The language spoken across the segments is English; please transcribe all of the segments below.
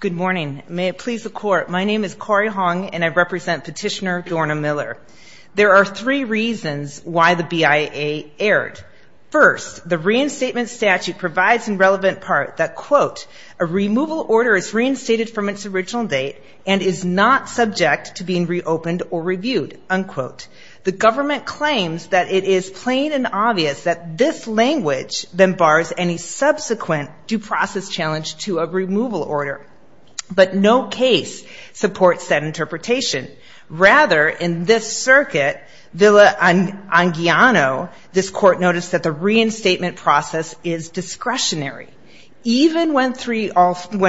Good morning. May it please the Court, my name is Cori Hong and I represent Petitioner Dorna Miller. There are three reasons why the BIA erred. First, the reinstatement statute provides in relevant part that, quote, a removal order is reinstated from its original date and is not subject to being reopened or reviewed, unquote. The government claims that it is plain and obvious that this language then bars any subsequent due process challenge to a removal order. But no case supports that interpretation. Rather, in this circuit, Villa-Anguiano, this Court noticed that the reinstatement process is discretionary. Even when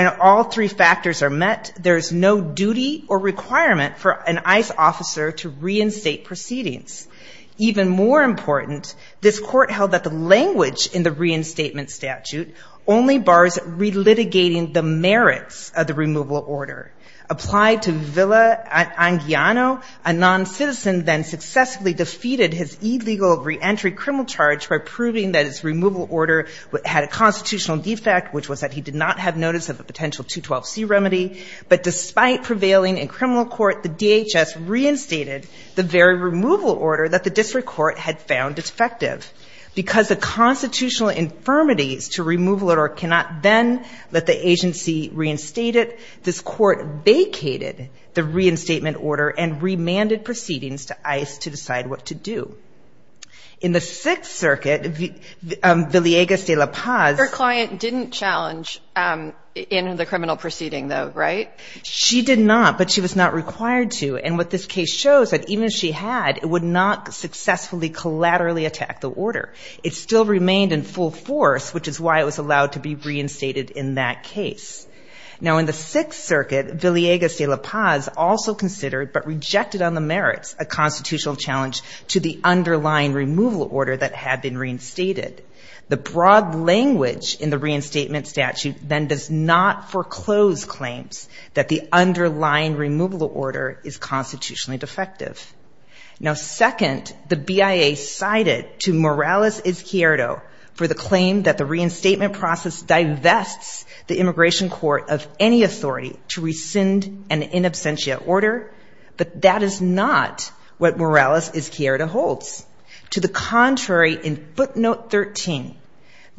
all three factors are met, there is no duty or requirement for an ICE officer to reinstate proceedings. Even more important, this Court held that the language in the reinstatement statute only bars relitigating the merits of the removal order. Applied to Villa-Anguiano, a noncitizen then successfully defeated his illegal reentry criminal charge by proving that his removal order had a constitutional defect, which was that he did not have notice of a potential 212C remedy. But despite prevailing in criminal court, the DHS reinstated the very removal order that the district court had found defective. Because the constitutional infirmities to removal order cannot then let the agency reinstate it, this Court vacated the reinstatement order and remanded proceedings to ICE to decide what to do. In the Sixth Circuit, Villegas de La Paz. Your client didn't challenge in the criminal proceeding, though, right? She did not, but she was not required to. And what this case shows that even if she had, it would not successfully collaterally attack the order. It still remained in full force, which is why it was allowed to be reinstated in that case. Now, in the Sixth Circuit, Villegas de La Paz also considered, but rejected on the merits, a constitutional challenge to the underlying removal order that had been reinstated. The broad language in the reinstatement statute then does not foreclose claims that the underlying removal order is constitutionally defective. Now, second, the BIA cited to Morales Izquierdo for the claim that the reinstatement process divests the immigration court of any authority to rescind an in absentia order. But that is not what Morales Izquierdo holds. To the contrary, in footnote 13,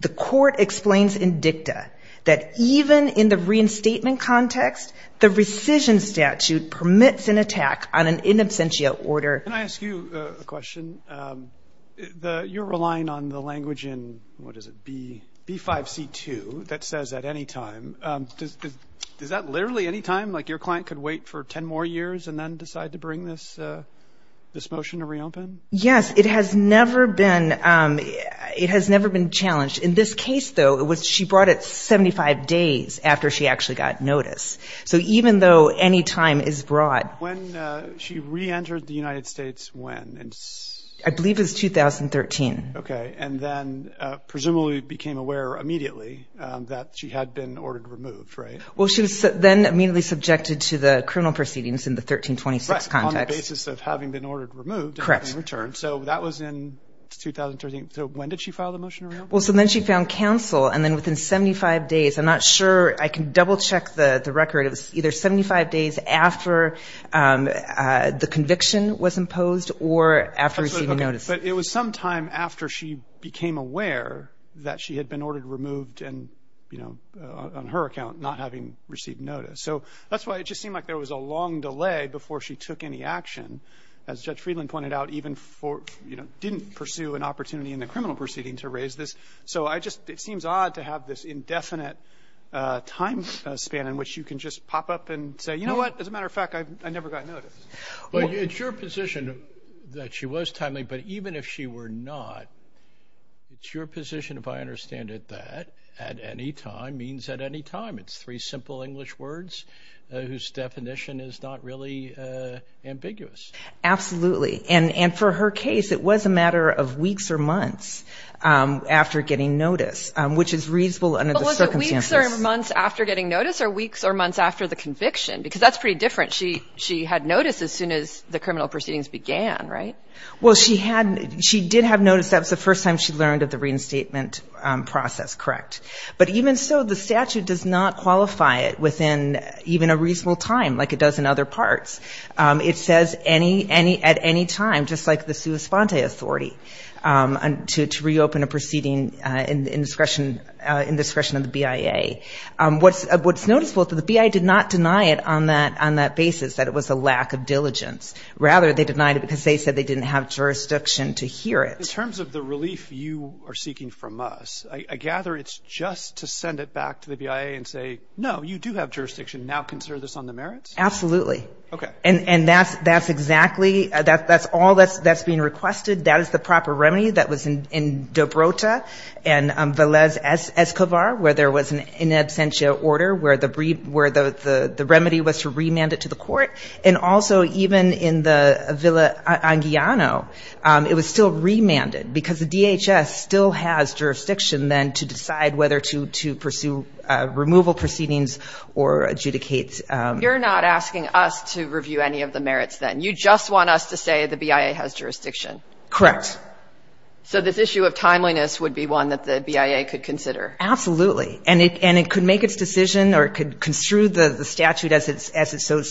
the court explains in dicta that even in the reinstatement context, the rescission statute permits an attack on an in absentia order. Can I ask you a question? You're relying on the language in, what is it, B5C2, that says at any time. Is that literally any time, like your client could wait for 10 more years and then decide to bring this motion to reopen? Yes, it has never been challenged. In this case, though, she brought it 75 days after she actually got notice. So even though any time is broad. When she reentered the United States, when? I believe it was 2013. Okay, and then presumably became aware immediately that she had been ordered removed, right? Well, she was then immediately subjected to the criminal proceedings in the 1326 context. Right, on the basis of having been ordered removed and having returned. So that was in 2013. So when did she file the motion? Well, so then she found counsel, and then within 75 days, I'm not sure. I can double check the record. It was either 75 days after the conviction was imposed or after receiving notice. But it was sometime after she became aware that she had been ordered removed, and, you know, on her account, not having received notice. So that's why it just seemed like there was a long delay before she took any action. As Judge Friedland pointed out, even for, you know, didn't pursue an opportunity in the criminal proceeding to raise this. So I just, it seems odd to have this indefinite time span in which you can just pop up and say, you know what, as a matter of fact, I never got notice. Well, it's your position that she was timely. But even if she were not, it's your position, if I understand it, that at any time means at any time. It's three simple English words whose definition is not really ambiguous. Absolutely. And for her case, it was a matter of weeks or months after getting notice, which is reasonable under the circumstances. But was it weeks or months after getting notice or weeks or months after the conviction? Because that's pretty different. She had notice as soon as the criminal proceedings began, right? Well, she did have notice. That was the first time she learned of the reinstatement process, correct. But even so, the statute does not qualify it within even a reasonable time like it does in other parts. It says at any time, just like the sua sponte authority, to reopen a proceeding in discretion of the BIA. What's noticeable is that the BIA did not deny it on that basis, that it was a lack of diligence. Rather, they denied it because they said they didn't have jurisdiction to hear it. In terms of the relief you are seeking from us, I gather it's just to send it back to the BIA and say, no, you do have jurisdiction, now consider this on the merits? Absolutely. Okay. And that's exactly, that's all that's being requested. That is the proper remedy that was in Dobrota and Velez Escobar, where there was an in absentia order, where the remedy was to remand it to the court. And also even in the Villa Anguiano, it was still remanded because the DHS still has jurisdiction then to decide whether to pursue removal proceedings or adjudicate. You're not asking us to review any of the merits then. You just want us to say the BIA has jurisdiction. Correct. So this issue of timeliness would be one that the BIA could consider. Absolutely. And it could make its decision or it could construe the statute as it so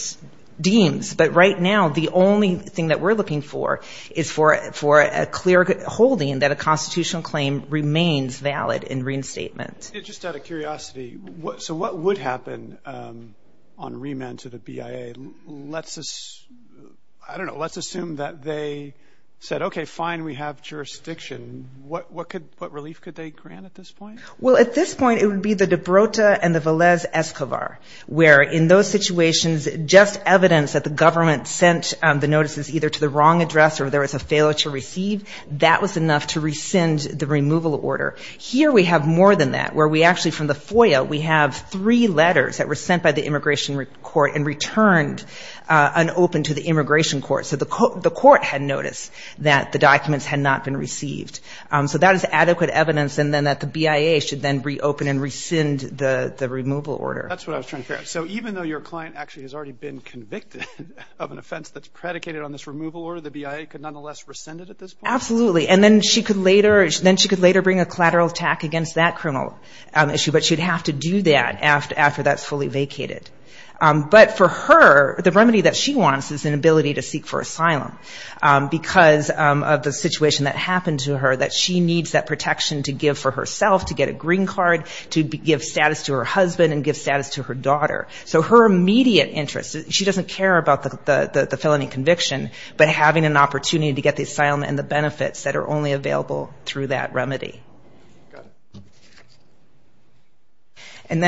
deems. But right now the only thing that we're looking for is for a clear holding that a constitutional claim remains valid in reinstatement. Just out of curiosity, so what would happen on remand to the BIA? Let's assume that they said, okay, fine, we have jurisdiction. What relief could they grant at this point? Well, at this point it would be the Dobrota and the Velez Escobar, where in those situations just evidence that the government sent the notices either to the wrong address or there was a failure to receive, that was enough to rescind the removal order. Here we have more than that, where we actually from the FOIA, we have three letters that were sent by the immigration court and returned unopened to the immigration court. So the court had noticed that the documents had not been received. So that is adequate evidence then that the BIA should then reopen and rescind the removal order. That's what I was trying to figure out. So even though your client actually has already been convicted of an offense that's predicated on this removal order, the BIA could nonetheless rescind it at this point? Absolutely. And then she could later bring a collateral attack against that criminal issue, but she would have to do that after that's fully vacated. But for her, the remedy that she wants is an ability to seek for asylum because of the situation that happened to her, that she needs that protection to give for herself, to get a green card, to give status to her husband and give status to her daughter. So her immediate interest, she doesn't care about the felony conviction, but having an opportunity to get the asylum and the benefits that are only available through that remedy. Got it. And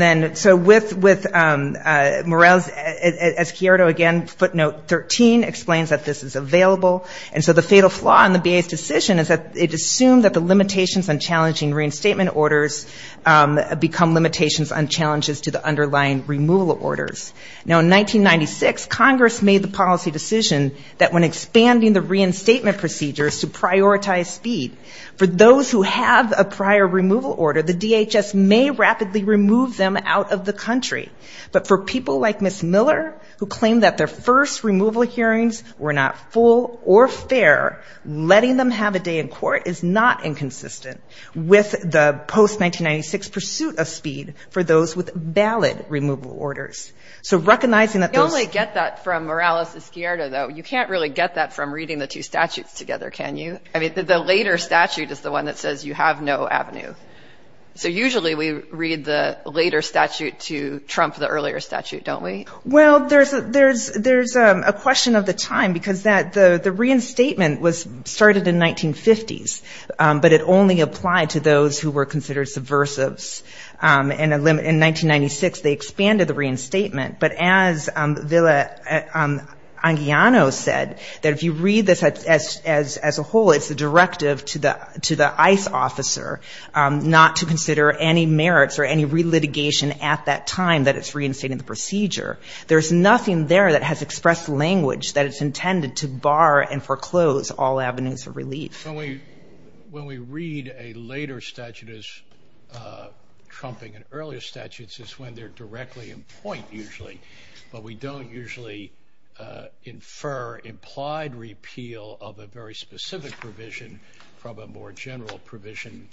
then, so with Morell's, as Chiaro again, footnote 13 explains that this is available. And so the fatal flaw in the BIA's decision is that it assumed that the limitations on challenging reinstatement orders become limitations on challenges to the underlying removal orders. Now, in 1996, Congress made the policy decision that when expanding the reinstatement procedures to prioritize speed, for those who have a prior removal order, the DHS may rapidly remove them out of the country. But for people like Ms. Miller, who claim that their first removal hearings were not full or fair, letting them have a day in court is not inconsistent with the post-1996 pursuit of speed for those with valid removal orders. So recognizing that those... You can't really get that from reading the two statutes together, can you? I mean, the later statute is the one that says you have no avenue. So usually we read the later statute to trump the earlier statute, don't we? Well, there's a question of the time, because the reinstatement started in 1950s, but it only applied to those who were considered subversives. In 1996, they expanded the reinstatement, but as Villa-Anguiano said, that if you read this as a whole, it's a directive to the ICE officer, not to consider any merits or any relitigation at that time that it's reinstating the procedure. There's nothing there that has expressed language that it's intended to bar and foreclose all avenues of relief. When we read a later statute as trumping an earlier statute, it's when they're directly in point, usually. But we don't usually infer implied repeal of a very specific provision from a more general provision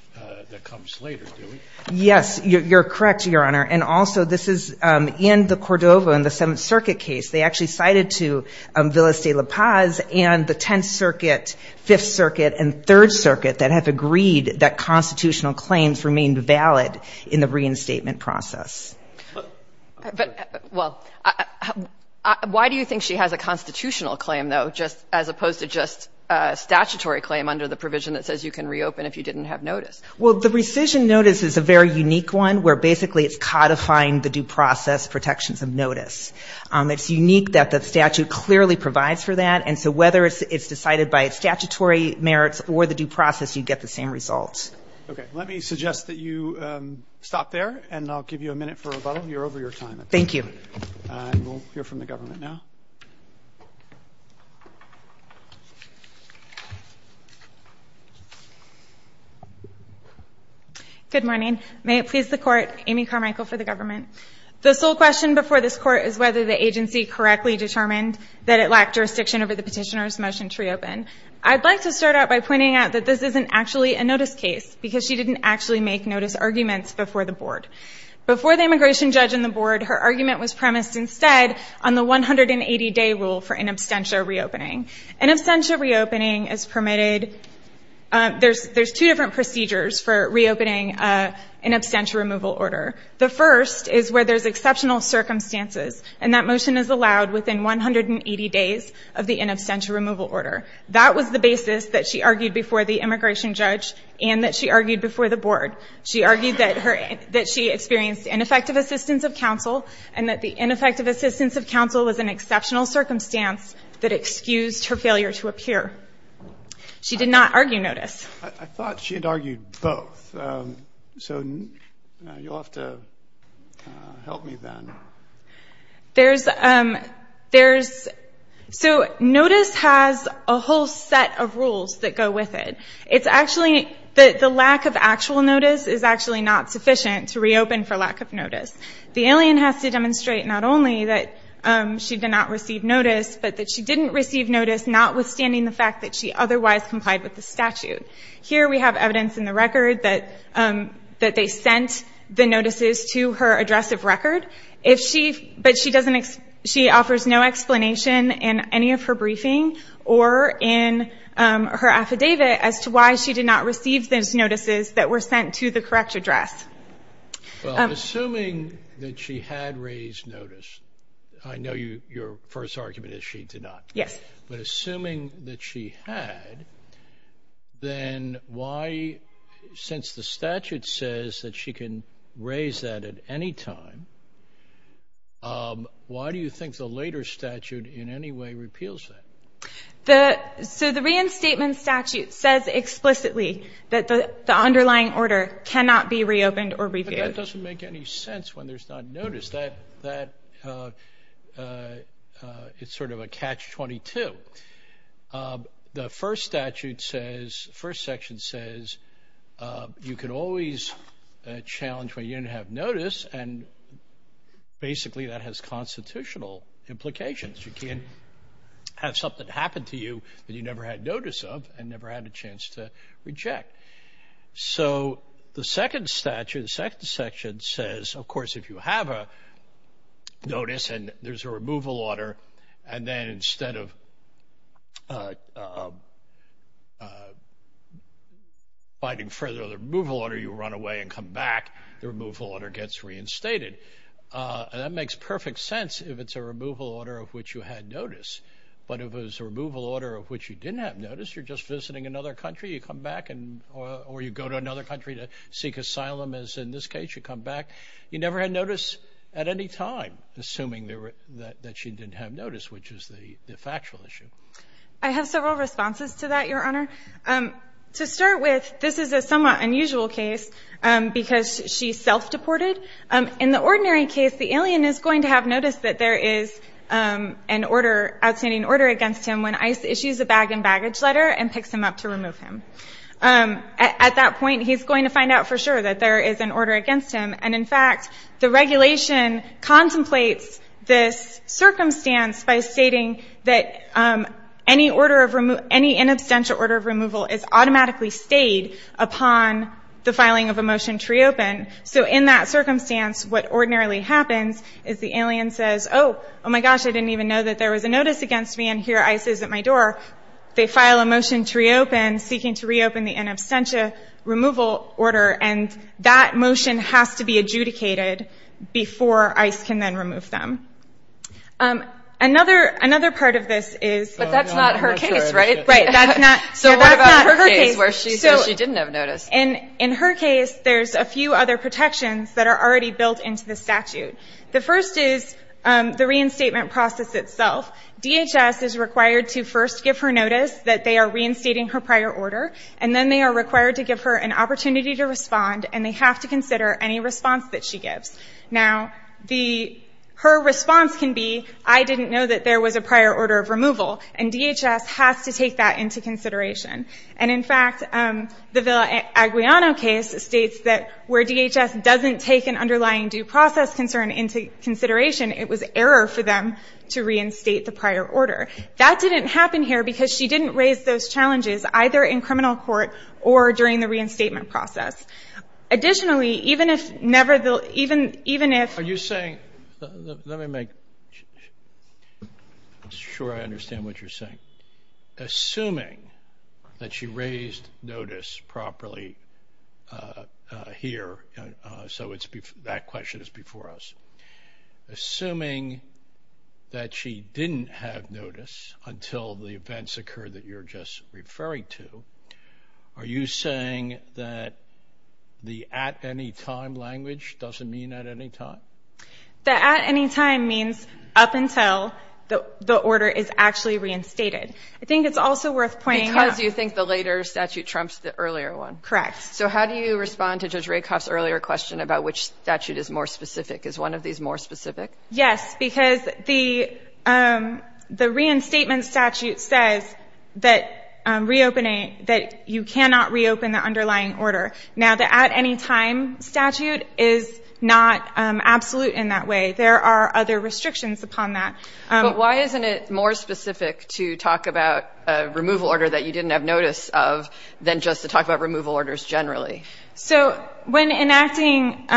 that comes later, do we? Yes, you're correct, Your Honor. And also, this is in the Cordova, in the Seventh Circuit case. They actually cited to Villas de la Paz and the Tenth Circuit, Fifth Circuit, and Third Circuit that have agreed that constitutional claims remain valid in the reinstatement process. But, well, why do you think she has a constitutional claim, though, as opposed to just a statutory claim under the provision that says you can reopen if you didn't have notice? Well, the rescission notice is a very unique one, where basically it's codifying the due process protections of notice. It's unique that the statute clearly provides for that. And so whether it's decided by statutory merits or the due process, you get the same results. Okay. Let me suggest that you stop there, and I'll give you a minute for rebuttal. You're over your time. Thank you. We'll hear from the government now. Good morning. May it please the Court, Amy Carmichael for the government. The sole question before this Court is whether the agency correctly determined that it lacked jurisdiction over the petitioner's motion to reopen. I'd like to start out by pointing out that this isn't actually a notice case, because she didn't actually make notice arguments before the Board. Before the immigration judge and the Board, her argument was premised instead on the 180-day rule for in absentia reopening. In absentia reopening is permitted. There's two different procedures for reopening an in absentia removal order. The first is where there's exceptional circumstances, and that motion is allowed within 180 days of the in absentia removal order. That was the basis that she argued before the immigration judge and that she argued before the Board. She argued that her – that she experienced ineffective assistance of counsel and that the ineffective assistance of counsel was an exceptional circumstance that excused her failure to appear. She did not argue notice. I thought she had argued both. So you'll have to help me then. There's – there's – so notice has a whole set of rules that go with it. It's actually – the lack of actual notice is actually not sufficient to reopen for lack of notice. The alien has to demonstrate not only that she did not receive notice, but that she didn't receive notice notwithstanding the fact that she otherwise complied with the statute. Here we have evidence in the record that – that they sent the notices to her address of record. If she – but she doesn't – she offers no explanation in any of her briefing or in her affidavit as to why she did not receive those notices that were sent to the correct address. Well, assuming that she had raised notice – I know you – your first argument is she did not. Yes. But assuming that she had, then why – since the statute says that she can raise that at any time, why do you think the later statute in any way repeals that? The – so the reinstatement statute says explicitly that the underlying order cannot be reopened or reviewed. That doesn't make any sense when there's not notice. That – it's sort of a catch-22. The first statute says – the first section says you can always challenge when you didn't have notice, and basically that has constitutional implications. You can't have something happen to you that you never had notice of and never had a chance to reject. So the second statute – the second section says, of course, if you have a notice and there's a removal order, and then instead of finding further the removal order, you run away and come back, the removal order gets reinstated. And that makes perfect sense if it's a removal order of which you had notice. But if it was a removal order of which you didn't have notice, you're just visiting another country, you come back and – or you go to another country to seek asylum, as in this case, you come back. You never had notice at any time, assuming that you didn't have notice, which is the factual issue. I have several responses to that, Your Honor. To start with, this is a somewhat unusual case because she's self-deported. In the ordinary case, the alien is going to have notice that there is an order – ICE issues a bag and baggage letter and picks him up to remove him. At that point, he's going to find out for sure that there is an order against him. And, in fact, the regulation contemplates this circumstance by stating that any order of – any inabstantial order of removal is automatically stayed upon the filing of a motion to reopen. So in that circumstance, what ordinarily happens is the alien says, oh, oh, my gosh, I didn't even know that there was a notice against me, and here ICE is at my door. They file a motion to reopen, seeking to reopen the inabstantial removal order, and that motion has to be adjudicated before ICE can then remove them. Another part of this is – But that's not her case, right? Right, that's not – So what about her case where she says she didn't have notice? In her case, there's a few other protections that are already built into the statute. The first is the reinstatement process itself. DHS is required to first give her notice that they are reinstating her prior order, and then they are required to give her an opportunity to respond, and they have to consider any response that she gives. Now, her response can be, I didn't know that there was a prior order of removal, and DHS has to take that into consideration. And, in fact, the Villa-Aguillano case states that where DHS doesn't take an underlying due process concern into consideration, it was error for them to reinstate the prior order. That didn't happen here because she didn't raise those challenges, either in criminal court or during the reinstatement process. Additionally, even if never – even if – Are you saying – let me make – I'm sure I understand what you're saying. Assuming that she raised notice properly here, so it's – that question is before us. Assuming that she didn't have notice until the events occurred that you're just referring to, are you saying that the at-any-time language doesn't mean at any time? The at-any-time means up until the order is actually reinstated. I think it's also worth pointing out – Because you think the later statute trumps the earlier one. Correct. So how do you respond to Judge Rakoff's earlier question about which statute is more specific? Is one of these more specific? Yes, because the – the reinstatement statute says that reopening – that you cannot reopen the underlying order. Now, the at-any-time statute is not absolute in that way. There are other restrictions upon that. But why isn't it more specific to talk about a removal order that you didn't have notice of than just to talk about removal orders generally? So when enacting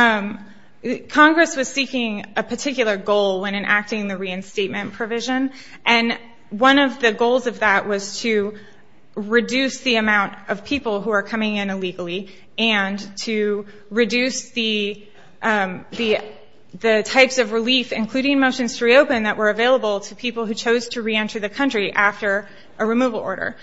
– Congress was seeking a particular goal when enacting the reinstatement provision, and one of the goals of that was to reduce the amount of people who are coming in illegally and to reduce the – the types of relief, including motions to reopen, that were available to people who chose to reenter the country after a removal order.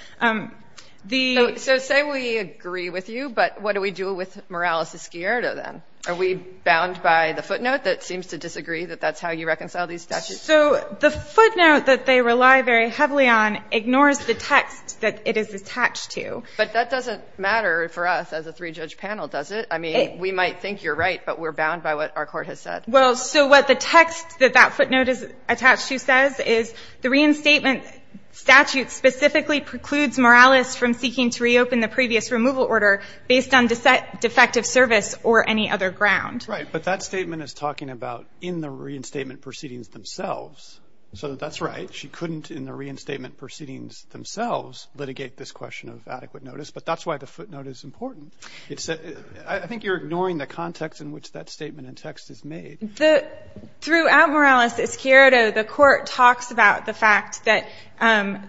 The – So say we agree with you, but what do we do with Morales-Escuero, then? Are we bound by the footnote that seems to disagree that that's how you reconcile these statutes? So the footnote that they rely very heavily on ignores the text that it is attached to. But that doesn't matter for us as a three-judge panel, does it? I mean, we might think you're right, but we're bound by what our court has said. Well, so what the text that that footnote is attached to says is the reinstatement statute specifically precludes Morales from seeking to reopen the previous removal order based on defective service or any other ground. Right. But that statement is talking about in the reinstatement proceedings themselves. So that's right. She couldn't, in the reinstatement proceedings themselves, litigate this question of adequate notice. But that's why the footnote is important. It's – I think you're ignoring the context in which that statement in text is made. The – throughout Morales-Escuero, the court talks about the fact that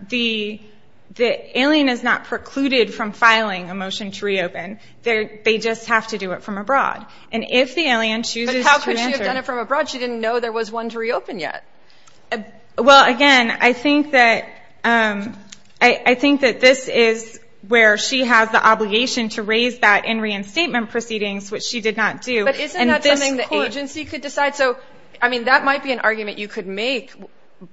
the – that Alien is not precluded from filing a motion to reopen. They just have to do it from abroad. And if the Alien chooses to enter – But how could she have done it from abroad? She didn't know there was one to reopen yet. Well, again, I think that – I think that this is where she has the obligation to raise that in reinstatement proceedings, which she did not do. But isn't that something the agency could decide? So, I mean, that might be an argument you could make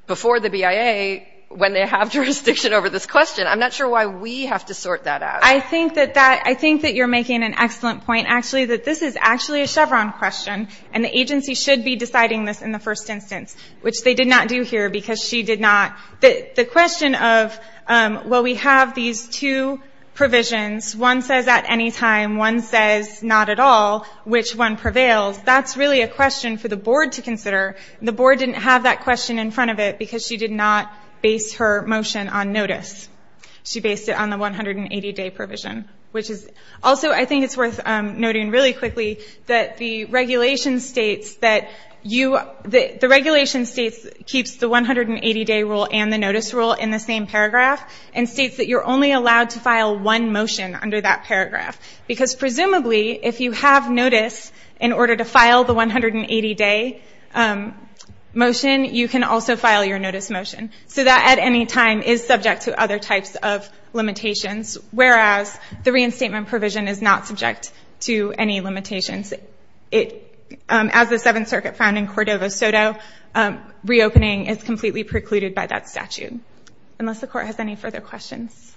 before the BIA, when they have jurisdiction over this question. I'm not sure why we have to sort that out. I think that that – I think that you're making an excellent point, actually, that this is actually a Chevron question, and the agency should be deciding this in the first instance, which they did not do here because she did not – the question of, well, we have these two provisions. One says at any time. One says not at all. Which one prevails? That's really a question for the board to consider. The board didn't have that question in front of it because she did not base her motion on notice. She based it on the 180-day provision, which is – I'll just say really quickly that the regulation states that you – the regulation states – keeps the 180-day rule and the notice rule in the same paragraph and states that you're only allowed to file one motion under that paragraph because presumably if you have notice in order to file the 180-day motion, you can also file your notice motion. So that at any time is subject to other types of limitations, whereas the reinstatement provision is not subject to any limitations. As the Seventh Circuit found in Cordova-Soto, reopening is completely precluded by that statute, unless the Court has any further questions.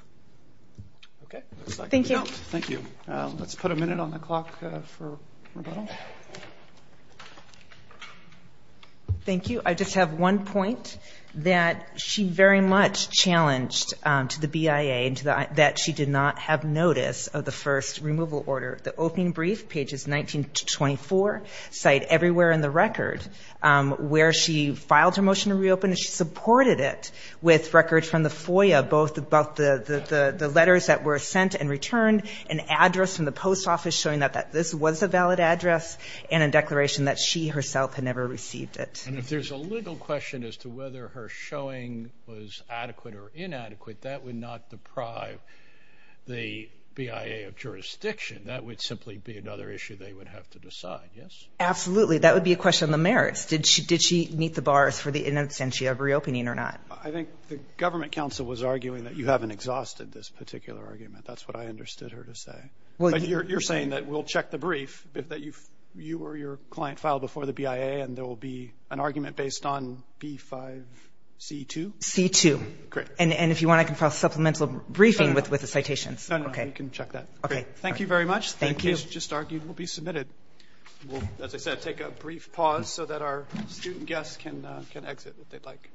Okay. Thank you. Let's put a minute on the clock for rebuttal. Thank you. I just have one point that she very much challenged to the BIA that she did not have notice of the first removal order. The opening brief, pages 19 to 24, cite everywhere in the record where she filed her motion to reopen, she supported it with records from the FOIA, both about the letters that were sent and returned, an address from the post office showing that this was a valid address, and a declaration that she herself had never received it. And if there's a legal question as to whether her showing was adequate or inadequate, that would not deprive the BIA of jurisdiction. That would simply be another issue they would have to decide. Yes? Absolutely. That would be a question of the merits. Did she meet the bars for the inocentia of reopening or not? I think the government counsel was arguing that you haven't exhausted this particular argument. That's what I understood her to say. But you're saying that we'll check the brief, that you or your client filed before the BIA, and there will be an argument based on B5C2? C2. Great. And if you want, I can file a supplemental briefing with the citations. No, no. You can check that. Okay. Thank you very much. Thank you. The case you just argued will be submitted. We'll, as I said, take a brief pause so that our student guests can exit if they'd like.